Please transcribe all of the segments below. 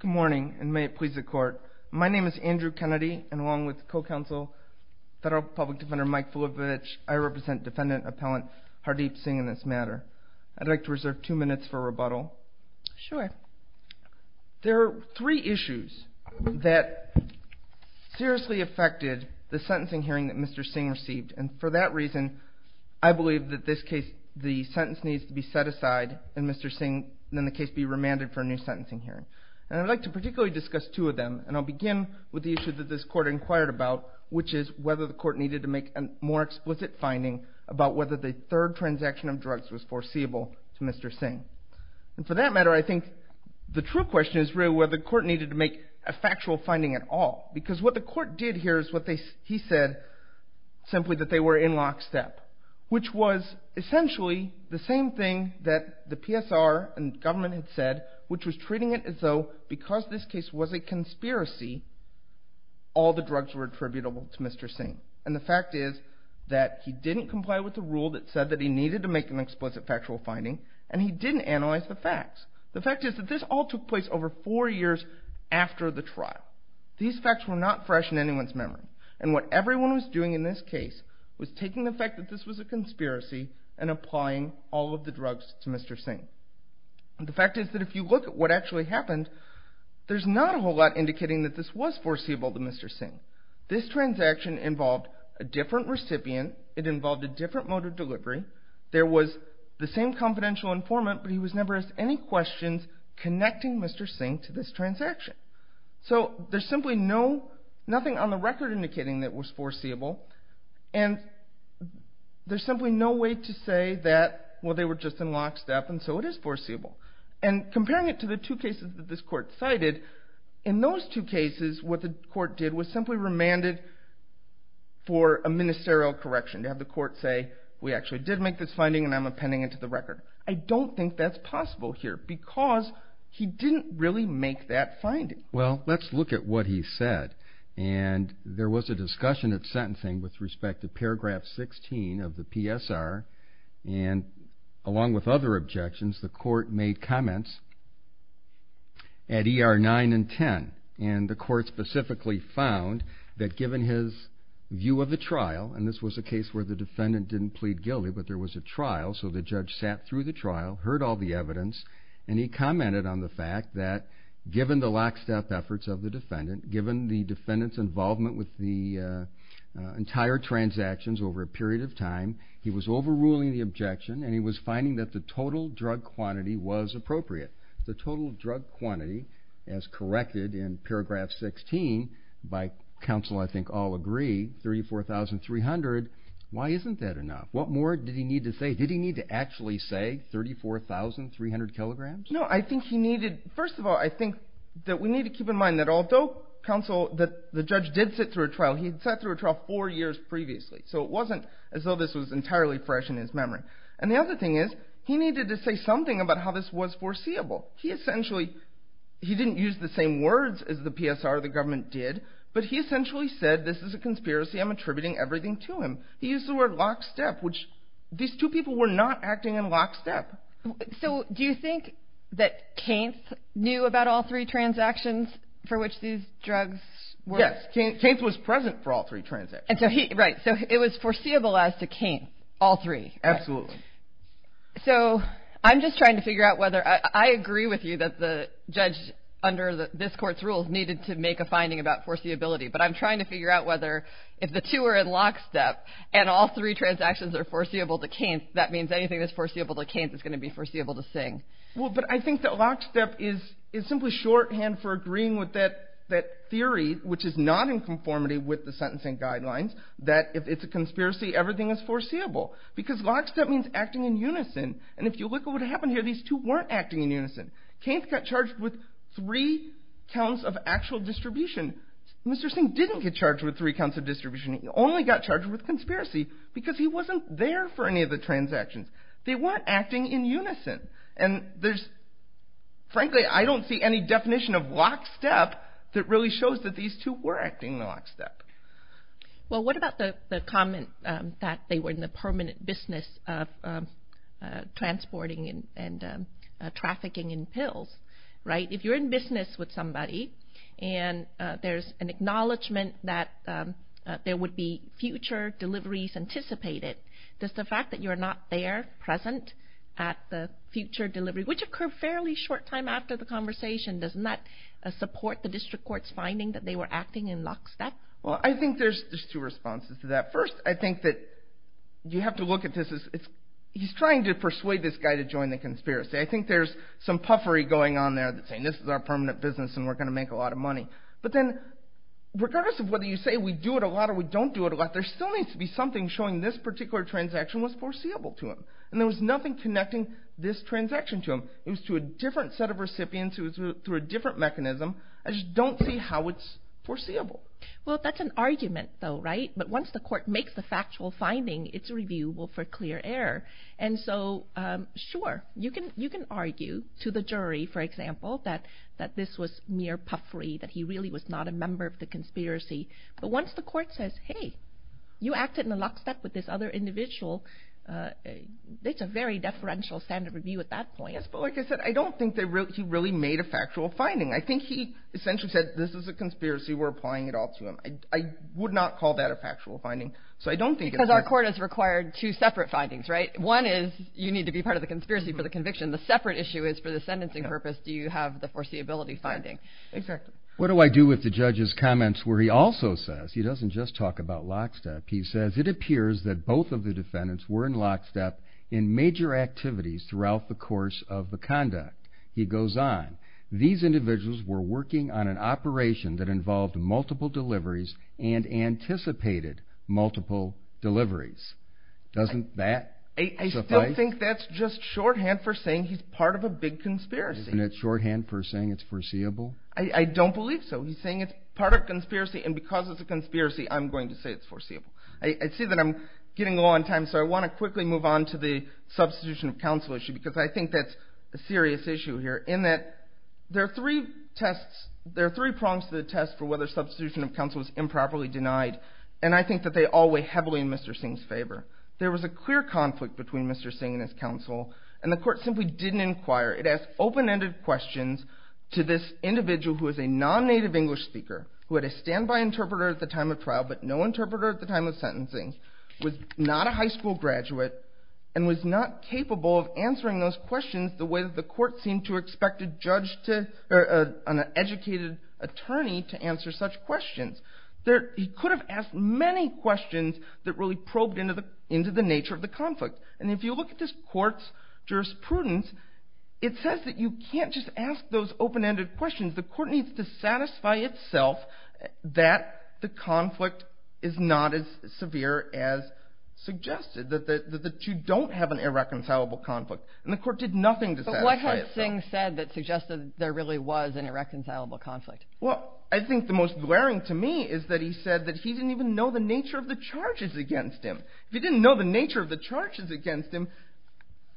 Good morning and may it please the court. My name is Andrew Kennedy and along with Co-Counsel Federal Public Defender Mike Fulevich, I represent Defendant Appellant Hardeep Singh in this matter. I'd like to reserve two minutes for rebuttal. There are three issues that seriously affected the sentencing hearing that Mr. Singh received and for that reason I believe that this case, the sentence needs to be set aside and Mr. Singh and then the case be remanded for a new sentencing hearing. And I'd like to particularly discuss two of them and I'll begin with the issue that this court inquired about which is whether the court needed to make a more explicit finding about whether the third transaction of drugs was foreseeable to Mr. Singh. And for that matter I think the true question is really whether the court needed to make a factual finding at all because what the court did here is what he said simply that they were in lockstep. Which was essentially the same thing that the PSR and government had said which was treating it as though because this case was a conspiracy all the drugs were attributable to Mr. Singh. And the fact is that he didn't comply with the rule that said that he needed to make an explicit factual finding and he didn't analyze the facts. The fact is that this all took place over four years after the trial. These facts were not fresh in anyone's memory and what everyone was doing in this case was taking the fact that this was a conspiracy and applying all of the drugs to Mr. Singh. The fact is that if you look at what actually happened there's not a whole lot indicating that this was foreseeable to Mr. Singh. This transaction involved a different recipient, it involved a different mode of delivery, there was the same confidential informant but he was never asked any questions connecting Mr. Singh to this transaction. So there's simply nothing on the record indicating that it was foreseeable and there's simply no way to say that well they were just in lockstep and so it is foreseeable. And comparing it to the two cases that this court cited, in those two cases what the court did was simply remanded for a ministerial correction to have the court say we actually did make this finding and I'm appending it to the record. I don't think that's possible here because he didn't really make that finding. Well let's look at what he said and there was a discussion at sentencing with respect to paragraph 16 of the PSR and along with other objections the court made comments at ER 9 and 10. And the court specifically found that given his view of the trial and this was a case where the defendant didn't plead guilty but there was a trial so the judge sat through the trial, heard all the evidence and he commented on the fact that given the lockstep efforts of the defendant, given the defendant's involvement with the entire transactions over a period of time, he was overruling the objection and he was finding that the total drug quantity was appropriate. The total drug quantity as corrected in paragraph 16 by counsel I think all agree, 34,300. Why isn't that enough? What more did he need to say? Did he need to actually say 34,300 kilograms? No I think he needed, first of all I think that we need to keep in mind that although counsel, the judge did sit through a trial, he sat through a trial four years previously so it wasn't as though this was entirely fresh in his memory. And the other thing is he needed to say something about how this was foreseeable. He essentially, he didn't use the same words as the PSR or the government did but he essentially said this is a conspiracy, I'm attributing everything to him. He used the word lockstep which these two people were not acting in lockstep. So do you think that Kainth knew about all three transactions for which these drugs were? Yes, Kainth was present for all three transactions. Right, so it was foreseeable as to Kainth, all three. Absolutely. So I'm just trying to figure out whether, I agree with you that the judge under this court's rules needed to make a finding about foreseeability but I'm trying to figure out whether if the two are in lockstep and all three transactions are foreseeable to Kainth that means anything that's foreseeable to Kainth is going to be foreseeable to Singh. Well but I think that lockstep is simply shorthand for agreeing with that theory which is not in conformity with the sentencing guidelines that if it's a conspiracy everything is foreseeable. Because lockstep means acting in unison and if you look at what happened here these two weren't acting in unison. Kainth got charged with three counts of actual distribution. Mr. Singh didn't get charged with three counts of distribution, he only got charged with conspiracy because he wasn't there for any of the transactions. They weren't acting in unison and frankly I don't see any definition of lockstep that really shows that these two were acting in lockstep. Well what about the comment that they were in the permanent business of transporting and trafficking in pills. If you're in business with somebody and there's an acknowledgment that there would be future deliveries anticipated does the fact that you're not there present at the future delivery which occurred fairly short time after the conversation does not support the district court's finding that they were acting in lockstep? Well I think there's two responses to that. First I think that you have to look at this as he's trying to persuade this guy to join the conspiracy. I think there's some puffery going on there saying this is our permanent business and we're going to make a lot of money. But then regardless of whether you say we do it a lot or we don't do it a lot there still needs to be something showing this particular transaction was foreseeable to him. And there was nothing connecting this transaction to him. It was to a different set of recipients, it was through a different mechanism. I just don't see how it's foreseeable. Well that's an argument though right? But once the court makes the factual finding it's reviewable for clear error. And so sure you can argue to the jury for example that this was mere puffery that he really was not a member of the conspiracy. But once the court says hey you acted in lockstep with this other individual it's a very deferential standard review at that point. But like I said I don't think he really made a factual finding. I think he essentially said this is a conspiracy we're applying it all to him. I would not call that a factual finding. Because our court has required two separate findings right? One is you need to be part of the conspiracy for the conviction. The separate issue is for the sentencing purpose do you have the foreseeability finding. Exactly. What do I do with the judge's comments where he also says he doesn't just talk about lockstep. He says it appears that both of the defendants were in lockstep in major activities throughout the course of the conduct. He goes on these individuals were working on an operation that involved multiple deliveries and anticipated multiple deliveries. Doesn't that suffice? I still think that's just shorthand for saying he's part of a big conspiracy. Isn't it shorthand for saying it's foreseeable? I don't believe so. He's saying it's part of a conspiracy and because it's a conspiracy I'm going to say it's foreseeable. I see that I'm getting low on time so I want to quickly move on to the substitution of counsel issue. Because I think that's a serious issue here in that there are three tests. There are three prongs to the test for whether substitution of counsel is improperly denied. And I think that they all weigh heavily in Mr. Singh's favor. There was a clear conflict between Mr. Singh and his counsel. And the court simply didn't inquire. It asked open-ended questions to this individual who is a non-native English speaker, who had a standby interpreter at the time of trial but no interpreter at the time of sentencing, was not a high school graduate, and was not capable of answering those questions the way that the court seemed to expect an educated attorney to answer such questions. He could have asked many questions that really probed into the nature of the conflict. And if you look at this court's jurisprudence, it says that you can't just ask those open-ended questions. The court needs to satisfy itself that the conflict is not as severe as suggested, that you don't have an irreconcilable conflict. And the court did nothing to satisfy itself. But what had Singh said that suggested there really was an irreconcilable conflict? Well, I think the most glaring to me is that he said that he didn't even know the nature of the charges against him. If he didn't know the nature of the charges against him,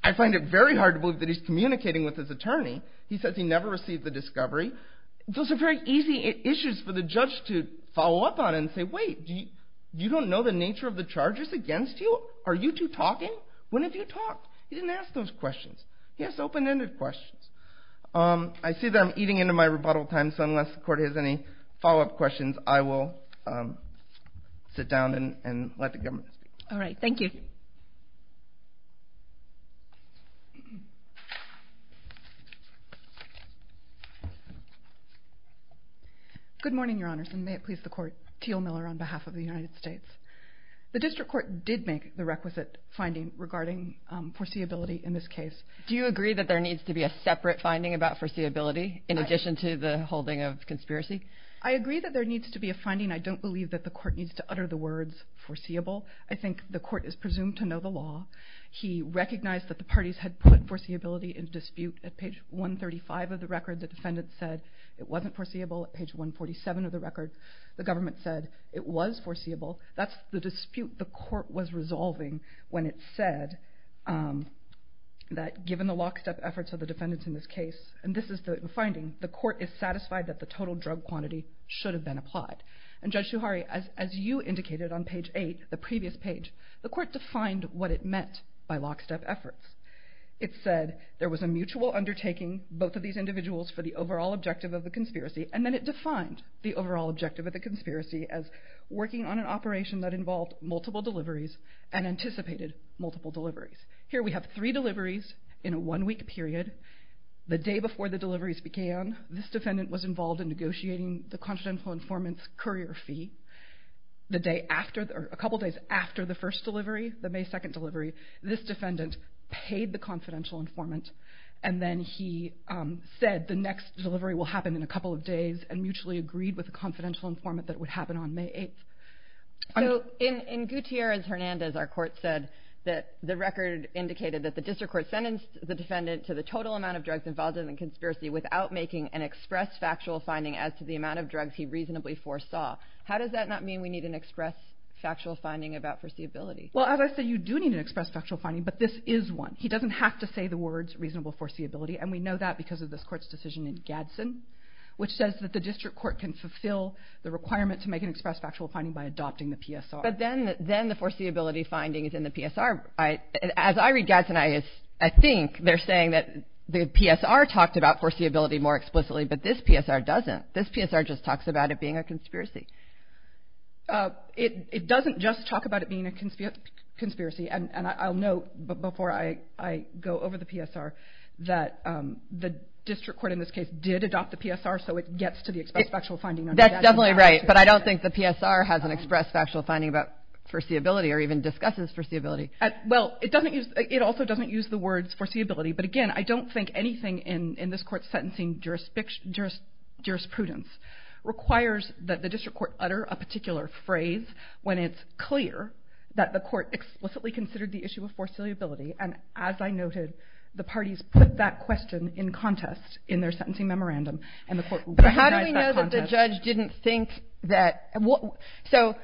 I find it very hard to believe that he's communicating with his attorney. He says he never received the discovery. Those are very easy issues for the judge to follow up on and say, wait, you don't know the nature of the charges against you? Are you two talking? When have you talked? He didn't ask those questions. He asked open-ended questions. I see that I'm eating into my rebuttal time, so unless the court has any follow-up questions, I will sit down and let the government speak. All right. Thank you. Good morning, Your Honors, and may it please the Court. Teal Miller on behalf of the United States. The district court did make the requisite finding regarding foreseeability in this case. Do you agree that there needs to be a separate finding about foreseeability in addition to the holding of conspiracy? I agree that there needs to be a finding. I don't believe that the court needs to utter the words foreseeable. I think the court is presumed to know the law. He recognized that the parties had put foreseeability in dispute. At page 135 of the record, the defendant said it wasn't foreseeable. At page 147 of the record, the government said it was foreseeable. That's the dispute the court was resolving when it said that given the lockstep efforts of the defendants in this case, and this is the finding, the court is satisfied that the total drug quantity should have been applied. And Judge Suhari, as you indicated on page 8, the previous page, the court defined what it meant by lockstep efforts. It said there was a mutual undertaking, both of these individuals, for the overall objective of the conspiracy, and then it defined the overall objective of the conspiracy as working on an operation that involved multiple deliveries and anticipated multiple deliveries. Here we have three deliveries in a one-week period. The day before the deliveries began, this defendant was involved in negotiating the confidential informant's courier fee. A couple days after the first delivery, the May 2nd delivery, this defendant paid the confidential informant, and then he said the next delivery will happen in a couple of days and mutually agreed with the confidential informant that it would happen on May 8th. So in Gutierrez-Hernandez, our court said that the record indicated that the district court sentenced the defendant to the total amount of drugs involved in the conspiracy without making an express factual finding as to the amount of drugs he reasonably foresaw. How does that not mean we need an express factual finding about foreseeability? Well, as I said, you do need an express factual finding, but this is one. He doesn't have to say the words reasonable foreseeability, and we know that because of this court's decision in Gadsden, which says that the district court can fulfill the requirement to make an express factual finding by adopting the PSR. But then the foreseeability finding is in the PSR. As I read Gadsden, I think they're saying that the PSR talked about foreseeability more explicitly, but this PSR doesn't. This PSR just talks about it being a conspiracy. It doesn't just talk about it being a conspiracy, and I'll note before I go over the PSR that the district court in this case did adopt the PSR, so it gets to the express factual finding under Gadsden. That's definitely right, but I don't think the PSR has an express factual finding about foreseeability or even discusses foreseeability. Well, it also doesn't use the words foreseeability, but again, I don't think anything in this court's sentencing jurisprudence requires that the district court utter a particular phrase when it's clear that the court explicitly considered the issue of foreseeability. And as I noted, the parties put that question in contest in their sentencing memorandum, and the court recognized that contest. But how do we know that the judge didn't think that – so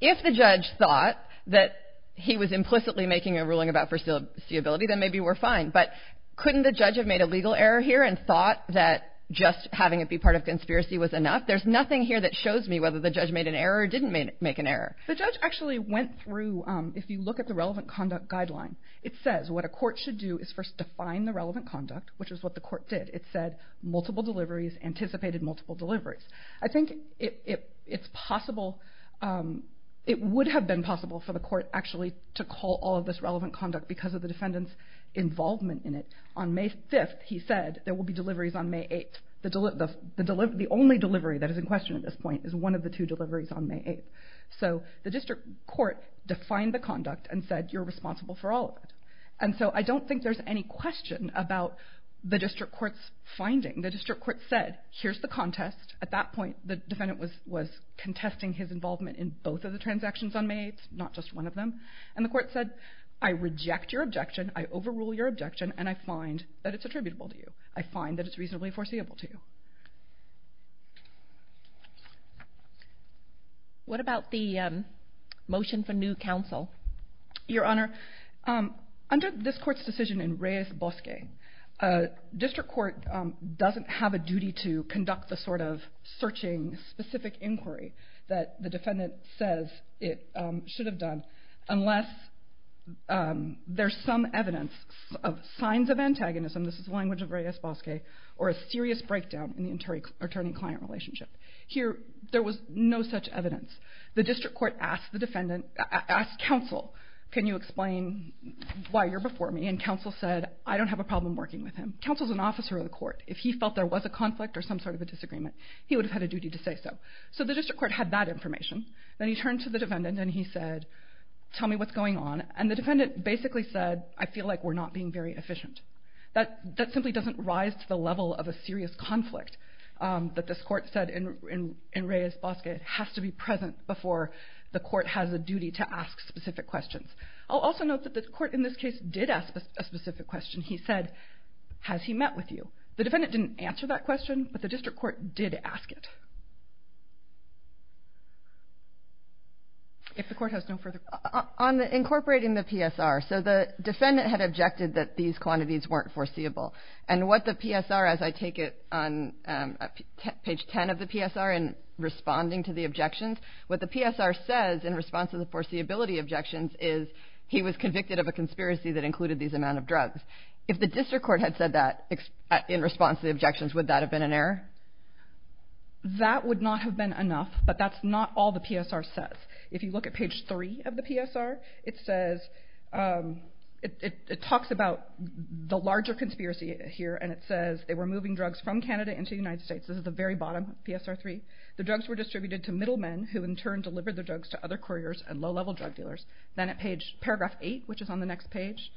if the judge thought that he was implicitly making a ruling about foreseeability, then maybe we're fine, but couldn't the judge have made a legal error here and thought that just having it be part of conspiracy was enough? There's nothing here that shows me whether the judge made an error or didn't make an error. The judge actually went through – if you look at the relevant conduct guideline, it says what a court should do is first define the relevant conduct, which is what the court did. It said multiple deliveries, anticipated multiple deliveries. I think it's possible – it would have been possible for the court actually to call all of this relevant conduct because of the defendant's involvement in it. On May 5th, he said there will be deliveries on May 8th. The only delivery that is in question at this point is one of the two deliveries on May 8th. So the district court defined the conduct and said you're responsible for all of it. And so I don't think there's any question about the district court's finding. The district court said here's the contest. At that point, the defendant was contesting his involvement in both of the transactions on May 8th, not just one of them. And the court said I reject your objection, I overrule your objection, and I find that it's attributable to you. I find that it's reasonably foreseeable to you. What about the motion for new counsel? Your Honor, under this court's decision in Reyes-Bosque, district court doesn't have a duty to conduct the sort of searching, specific inquiry that the defendant says it should have done unless there's some evidence of signs of antagonism – this is the language of Reyes-Bosque – or a serious breakdown in the attorney-client relationship. Here, there was no such evidence. The district court asked counsel, can you explain why you're before me? And counsel said, I don't have a problem working with him. Counsel's an officer of the court. If he felt there was a conflict or some sort of a disagreement, he would have had a duty to say so. So the district court had that information. Then he turned to the defendant and he said, tell me what's going on. And the defendant basically said, I feel like we're not being very efficient. That simply doesn't rise to the level of a serious conflict that this court said in Reyes-Bosque. It has to be present before the court has a duty to ask specific questions. I'll also note that the court in this case did ask a specific question. He said, has he met with you? The defendant didn't answer that question, but the district court did ask it. If the court has no further questions. On incorporating the PSR, so the defendant had objected that these quantities weren't foreseeable. And what the PSR, as I take it on page 10 of the PSR in responding to the objections, what the PSR says in response to the foreseeability objections is he was convicted of a conspiracy that included these amount of drugs. If the district court had said that in response to the objections, would that have been an error? That would not have been enough, but that's not all the PSR says. If you look at page 3 of the PSR, it says, it talks about the larger conspiracy here, and it says they were moving drugs from Canada into the United States. This is the very bottom of PSR 3. The drugs were distributed to middlemen, who in turn delivered the drugs to other couriers and low-level drug dealers. Then at paragraph 8, which is on the next page,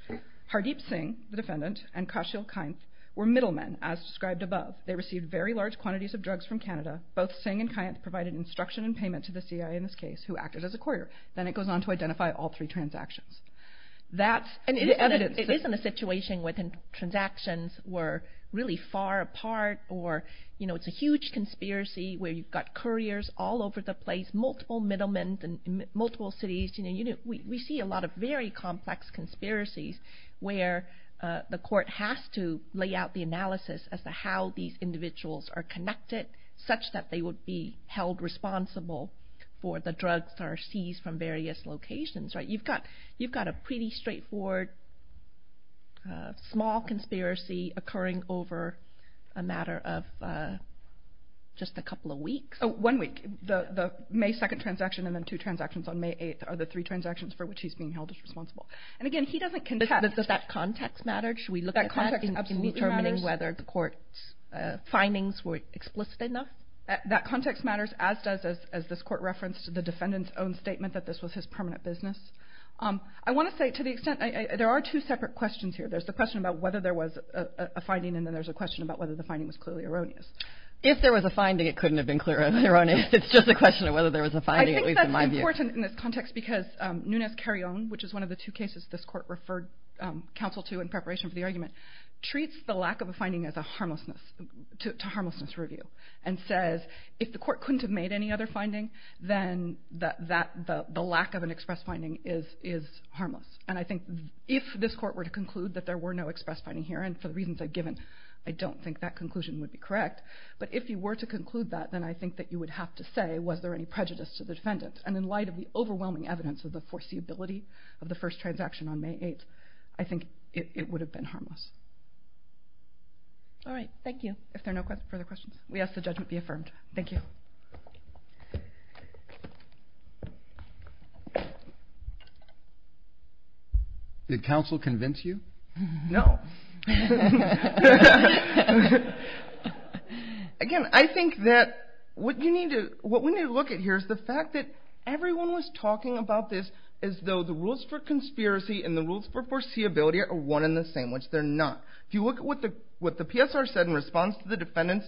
Hardeep Singh, the defendant, and Kashil Kainth were middlemen, as described above. They received very large quantities of drugs from Canada. Both Singh and Kainth provided instruction and payment to the CIA in this case, who acted as a courier. Then it goes on to identify all three transactions. That's evidence. It isn't a situation where the transactions were really far apart, or it's a huge conspiracy where you've got couriers all over the place, multiple middlemen in multiple cities. We see a lot of very complex conspiracies where the court has to lay out the analysis as to how these individuals are connected, such that they would be held responsible for the drugs that are seized from various locations. You've got a pretty straightforward, small conspiracy occurring over a matter of just a couple of weeks. One week. The May 2nd transaction and then two transactions on May 8th are the three transactions for which he's being held responsible. Again, he doesn't contest. But does that context matter? Should we look at that in determining whether the court's findings were explicit enough? That context matters, as does, as this court referenced, the defendant's own statement that this was his permanent business. I want to say, to the extent, there are two separate questions here. There's the question about whether there was a finding, and then there's a question about whether the finding was clearly erroneous. If there was a finding, it couldn't have been clearly erroneous. It's just a question of whether there was a finding, at least in my view. I think that's important in this context because Nunez-Carrion, which is one of the two cases this court referred counsel to in preparation for the argument, treats the lack of a finding as a harmlessness, to harmlessness review, and says if the court couldn't have made any other finding, then the lack of an express finding is harmless. And I think if this court were to conclude that there were no express finding here, and for the reasons I've given, I don't think that conclusion would be correct. But if you were to conclude that, then I think that you would have to say, was there any prejudice to the defendant? And in light of the overwhelming evidence of the foreseeability of the first transaction on May 8th, I think it would have been harmless. All right, thank you. If there are no further questions, we ask the judgment be affirmed. Thank you. Did counsel convince you? No. Again, I think that what we need to look at here is the fact that everyone was talking about this as though the rules for conspiracy and the rules for foreseeability are one and the same, which they're not. If you look at what the PSR said in response to the defendant's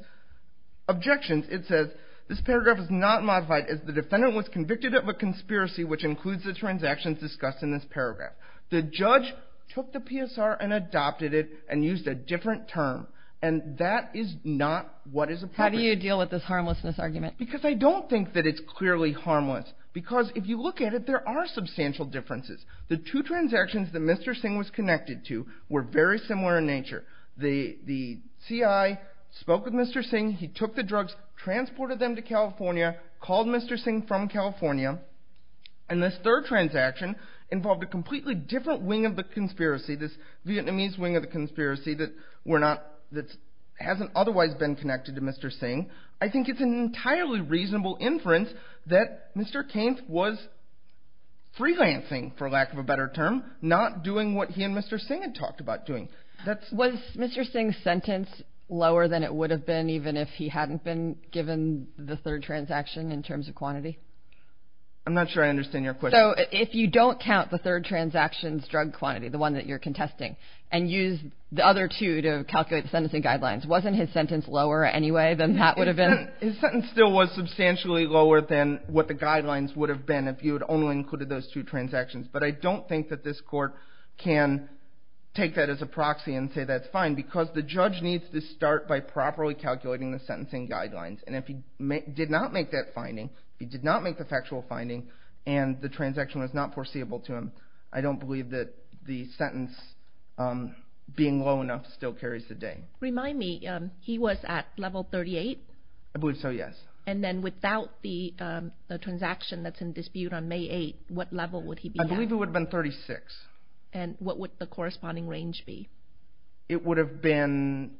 objections, it says this paragraph is not modified as the defendant was convicted of a conspiracy, which includes the transactions discussed in this paragraph. The judge took the PSR and adopted it and used a different term, and that is not what is appropriate. How do you deal with this harmlessness argument? Because I don't think that it's clearly harmless. Because if you look at it, there are substantial differences. The two transactions that Mr. Singh was connected to were very similar in nature. The C.I. spoke with Mr. Singh. He took the drugs, transported them to California, called Mr. Singh from California, and this third transaction involved a completely different wing of the conspiracy, this Vietnamese wing of the conspiracy that hasn't otherwise been connected to Mr. Singh. I think it's an entirely reasonable inference that Mr. Kainth was freelancing, for lack of a better term, not doing what he and Mr. Singh had talked about doing. Was Mr. Singh's sentence lower than it would have been even if he hadn't been given the third transaction in terms of quantity? I'm not sure I understand your question. So if you don't count the third transaction's drug quantity, the one that you're contesting, and use the other two to calculate the sentencing guidelines, wasn't his sentence lower anyway than that would have been? His sentence still was substantially lower than what the guidelines would have been if you had only included those two transactions. But I don't think that this court can take that as a proxy and say that's fine because the judge needs to start by properly calculating the sentencing guidelines. And if he did not make that finding, he did not make the factual finding, and the transaction was not foreseeable to him, I don't believe that the sentence being low enough still carries the day. Remind me, he was at level 38? I believe so, yes. And then without the transaction that's in dispute on May 8, what level would he be at? I believe it would have been 36. And what would the corresponding range be? It would have been,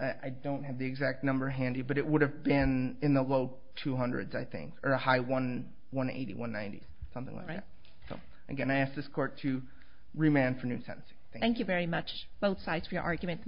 I don't have the exact number handy, but it would have been in the low 200s, I think, or a high 180, 190, something like that. Again, I ask this court to remand for new sentencing. Thank you very much, both sides, for your argument.